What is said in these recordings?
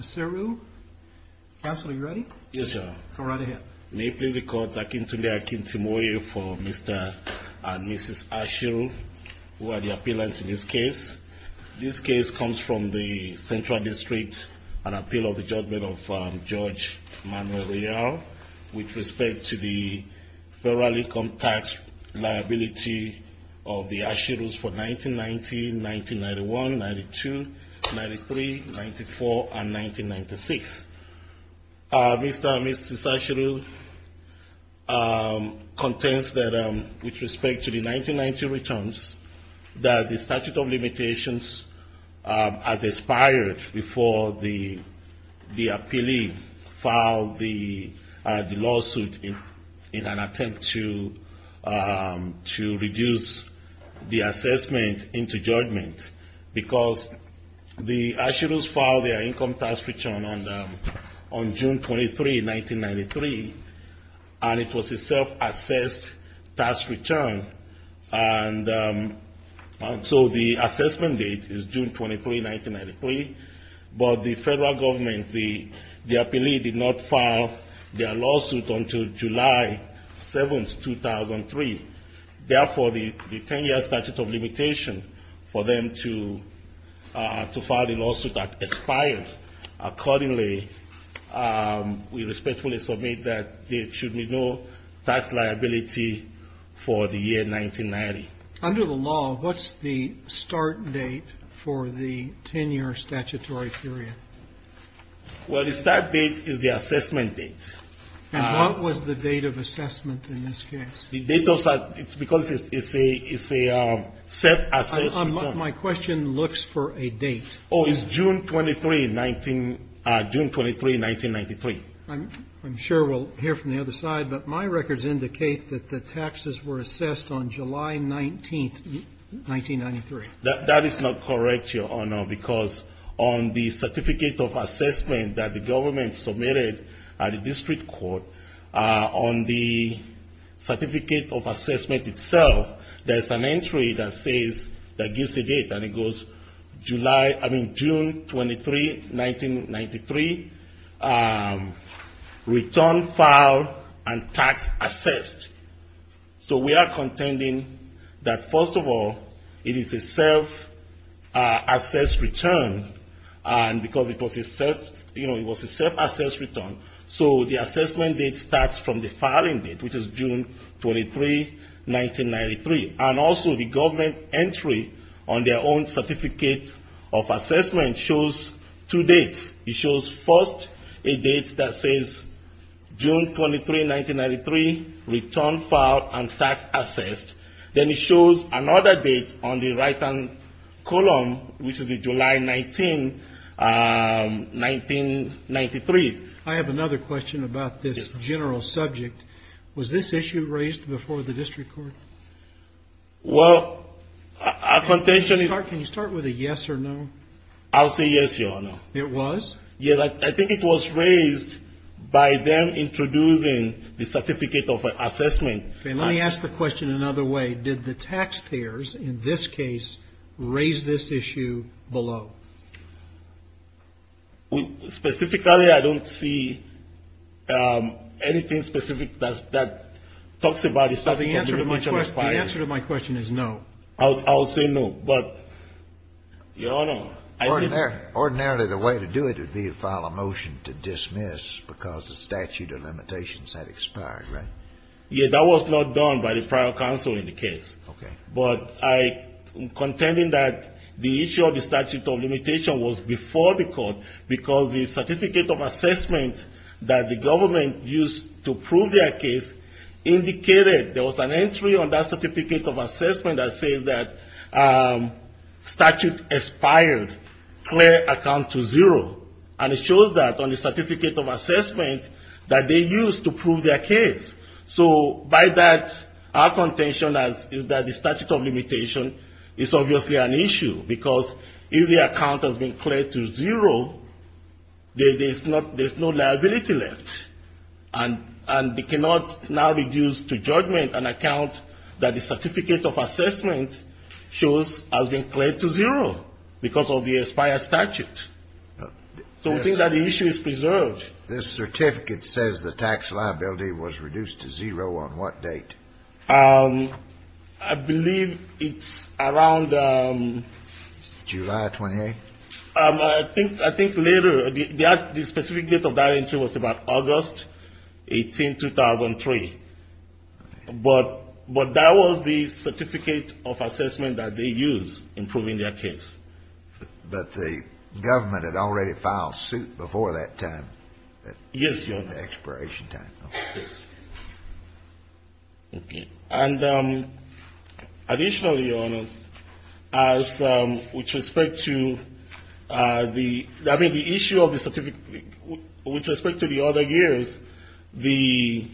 ASIRU, counsel are you ready? Yes, your honor. Go right ahead. May it please the court, Akin Tunde, Akin Timoye for Mr. and Mrs. ASIRU who are the appealants in this case. This case comes from the Central District, an appeal of the judgment of Judge Manuel Real with respect to the federal income tax liability of the ASIRUs for 1990, 1991, 92, 93, 94, and 1996. Mr. and Mrs. ASIRU contends that with respect to the 1990 returns that the statute of limitations had expired before the appealee filed the lawsuit in an attempt to reduce the assessment into judgment because the ASIRUs filed their income tax return on June 23, 1993 and it was a self-assessed tax return and so the assessment date is June 23, 1993, but the federal government, the appealee did not file their lawsuit until July 7, 2003. Therefore, the 10-year statute of limitation for them to file the lawsuit expired. Accordingly, we respectfully submit that there should be no tax liability for the year 1990. Under the law, what's the start date for the 10-year statutory period? Well, the start date is the assessment date. And what was the date of assessment in this case? It's because it's a self-assessed return. My question looks for a date. Oh, it's June 23, 1993. I'm sure we'll hear from the other side, but my records indicate that the taxes were assessed on July 19, 1993. That is not correct, Your Honor, because on the certificate of assessment that the government submitted at the district court, on the certificate of assessment itself, there's an entry that says, that we are contending that first of all, it is a self-assessed return and because it was a self-assessed return, so the assessment date starts from the filing date, which is June 23, 1993. And also the government entry on their own certificate of assessment shows two dates. It shows first a date that says June 23, 1993, return file and tax assessed. Then it shows another date on the right-hand column, which is the July 19, 1993. I have another question about this general subject. Was this issue raised before the district court? Well, our contention is... Can you start with a yes or no? I'll say yes, Your Honor. It was? Yes, I think it was raised by them introducing the certificate of assessment. Okay, let me ask the question another way. Did the taxpayers in this case raise this issue below? Specifically, I don't see anything specific that talks about the certificate. The answer to my question is no. I'll say no, but Your Honor, I think... Ordinarily, the way to do it would be to file a motion to dismiss because the statute of limitations had expired, right? Yes, that was not done by the prior counsel in the case. Okay. But I'm contending that the issue of the statute of limitation was before the court because the certificate of assessment that the government used to prove their case indicated there was an entry on that certificate of assessment that says that statute expired, clear account to zero. And it shows that on the certificate of assessment that they used to prove their case. So by that, our contention is that the statute of limitation is obviously an issue because if the account has been cleared to zero, there's no liability left. And they cannot now reduce to judgment an account that the certificate of assessment shows has been cleared to zero because of the expired statute. So we think that the issue is preserved. This certificate says the tax liability was reduced to zero on what date? I believe it's around... July 28th? I think later. The specific date of that entry was about August 18th, 2003. But that was the certificate of assessment that they used in proving their case. But the government had already filed suit before that time. Yes, Your Honor. The expiration time. Yes. Okay. And additionally, Your Honors, as with respect to the issue of the certificate, with respect to the other years, the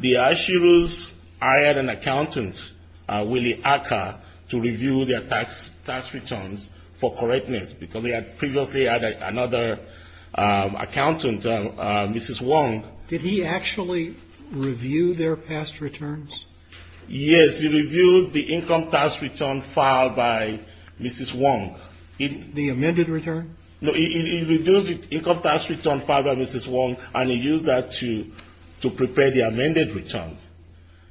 ashiru's hired an accountant, Willie Acker, to review their tax returns for correctness because they had previously had another accountant, Mrs. Wong. Did he actually review their past return filed by Mrs. Wong? The amended return? No, he reviewed the income tax return filed by Mrs. Wong and he used that to prepare the amended return.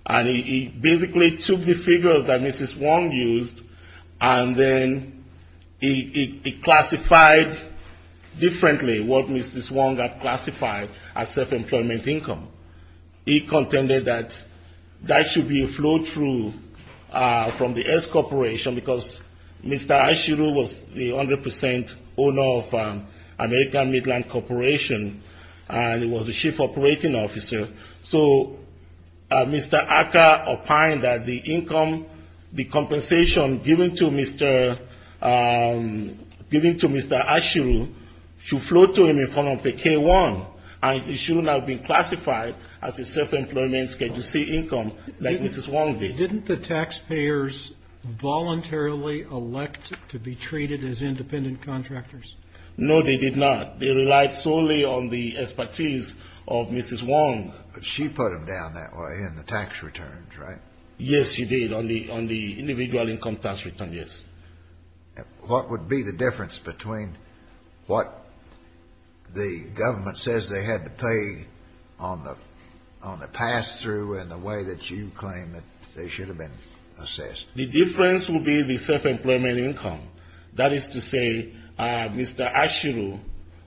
And he basically took the figures that Mrs. Wong used and then he classified differently what Mrs. Wong had classified as self-employment income. He contended that that should be a flow-through from the S Corp because Mr. Ashiru was the 100 percent owner of American Midland Corporation and he was the chief operating officer. So Mr. Acker opined that the income, the compensation given to Mr. Ashiru should flow to him in front of the K-1 and it should not be classified as a self-employment KGC income like Mrs. Wong did. Didn't the taxpayers voluntarily elect to be treated as independent contractors? No, they did not. They relied solely on the expertise of Mrs. Wong. But she put them down that way in the tax returns, right? Yes, she did, on the individual income tax return, yes. What would be the difference between what the government says they had to pay on the pass-through and the way that you claim that they should have been assessed? The difference would be the self-employment income. That is to say Mr. Ashiru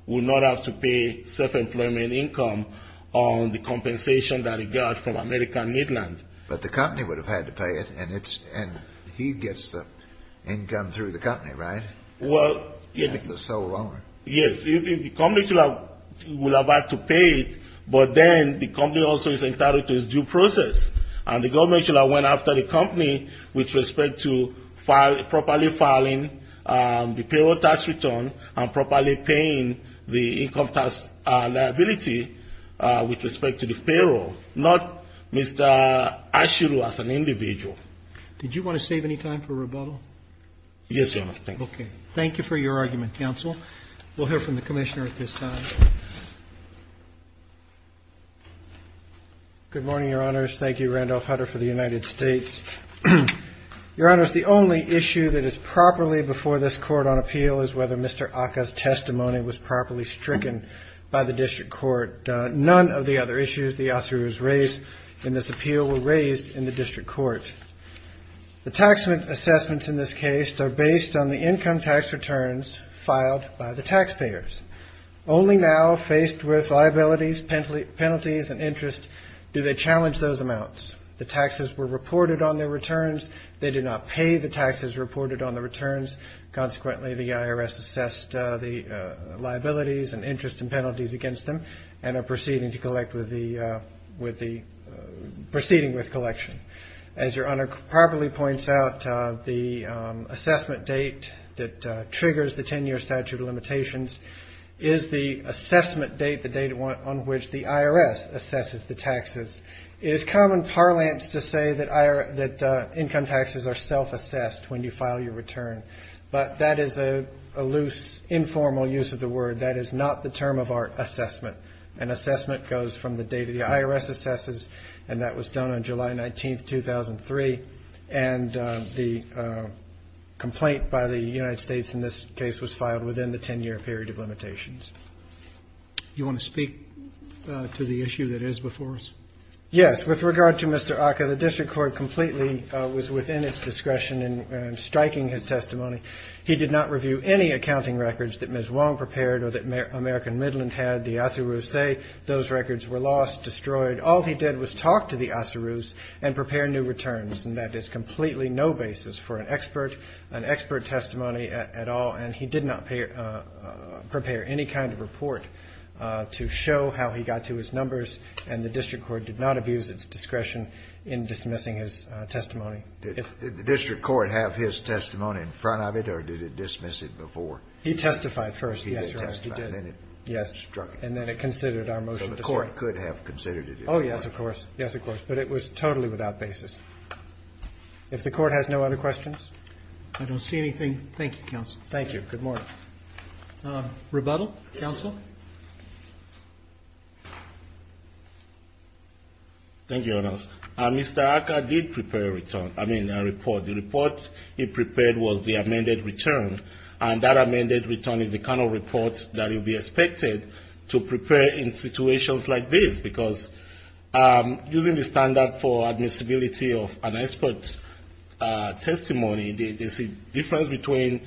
would not have to pay self-employment income on the compensation that he got from American Midland. But the company would have had to pay it and he gets the income through the company, right? As the sole owner. Yes, the company would have had to pay it, but then the company also is entitled to its due process. And the government should have went after the company with respect to properly filing the payroll tax return and properly paying the income tax liability with respect to the payroll, not Mr. Ashiru as an individual. Did you want to save any time for rebuttal? Yes, Your Honor. Okay. Thank you for your argument, counsel. We'll hear from the commissioner at this time. Good morning, Your Honors. Thank you, Randolph Hutter for the United States. Your Honors, the only issue that is properly before this court on appeal is whether Mr. Aka's testimony was properly stricken by the district court. None of the other issues the Ashiru's raised in this appeal were raised in the district court. The tax assessments in this case are based on the income tax returns filed by the taxpayers. Only now, faced with liabilities, penalties and interest, do they challenge those amounts. The taxes were reported on their returns. They did not pay the taxes reported on the returns. Consequently, the IRS assessed the liabilities and interest and penalties against them and are proceeding to collect with the proceeding with collection. As Your Honor properly points out, the assessment date that triggers the 10-year statute of limitations is the assessment date, the date on which the IRS assesses the taxes. It is common parlance to say that income taxes are self-assessed when you file your return, but that is a loose, informal use of the word. That is not the term of our assessment. An assessment goes from the date the IRS assesses, and that was done on July 19, 2003, and the complaint by the United States in this case was filed within the 10-year period of limitations. You want to speak to the issue that is before us? Yes. With regard to Mr. Aka, the district court completely was within its discretion in striking his testimony. He did not review any accounting records that Ms. Wong prepared or that American Midland had. The Asaroos say those records were lost, destroyed. All he did was talk to the Asaroos and prepare new returns, and that is completely no basis for an expert testimony at all, and he did not prepare any kind of report to show how he got to his numbers, and the district court did not abuse its discretion in dismissing his testimony. Did the district court have his testimony in front of it, or did it dismiss it before? He testified first. He did testify, and then it struck him. Yes. And then it considered our motion to strike. So the court could have considered it. Oh, yes, of course. Yes, of course. But it was totally without basis. If the Court has no other questions? I don't see anything. Thank you, Counsel. Thank you. Good morning. Rebuttal? Counsel? Thank you, Your Honor. Mr. Aka did prepare a return, I mean, a report. The report he prepared was the amended return, and that amended return is the kind of report that will be expected to prepare in situations like this, because using the standard for admissibility of an expert testimony, there's a difference between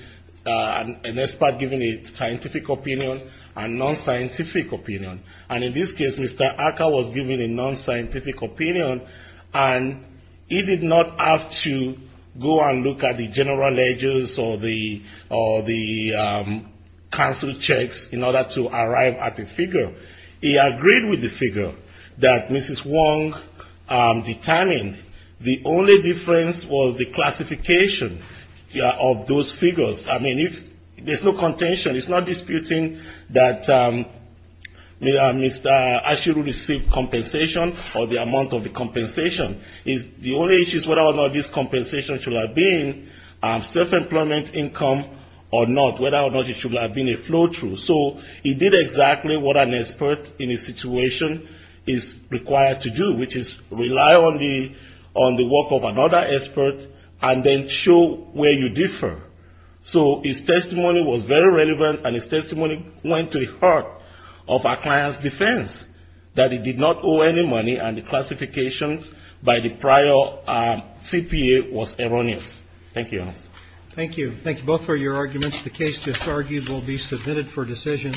an expert giving a scientific opinion and non-scientific opinion, and in this case, Mr. Aka was giving a non-scientific opinion, and he did not have to go and look at the general ledgers or the counsel checks in order to arrive at the figure. He agreed with the figure that Mrs. Wong determined. The only difference was the classification of those figures. I mean, there's no contention. It's not disputing that Mr. Asheru received compensation or the amount of the compensation. The only issue is whether or not this compensation should have been self-employment income or not, whether or not it should have been a flow-through. So he did exactly what an expert in his situation is required to do, which is rely on the work of another expert and then show where you differ. So his testimony was very relevant, and his testimony went to the heart of our client's defense that he did not owe any money, and the classifications by the prior CPA was erroneous. Thank you, Your Honor. Thank you. Thank you both for your arguments. The case just argued will be submitted for decision.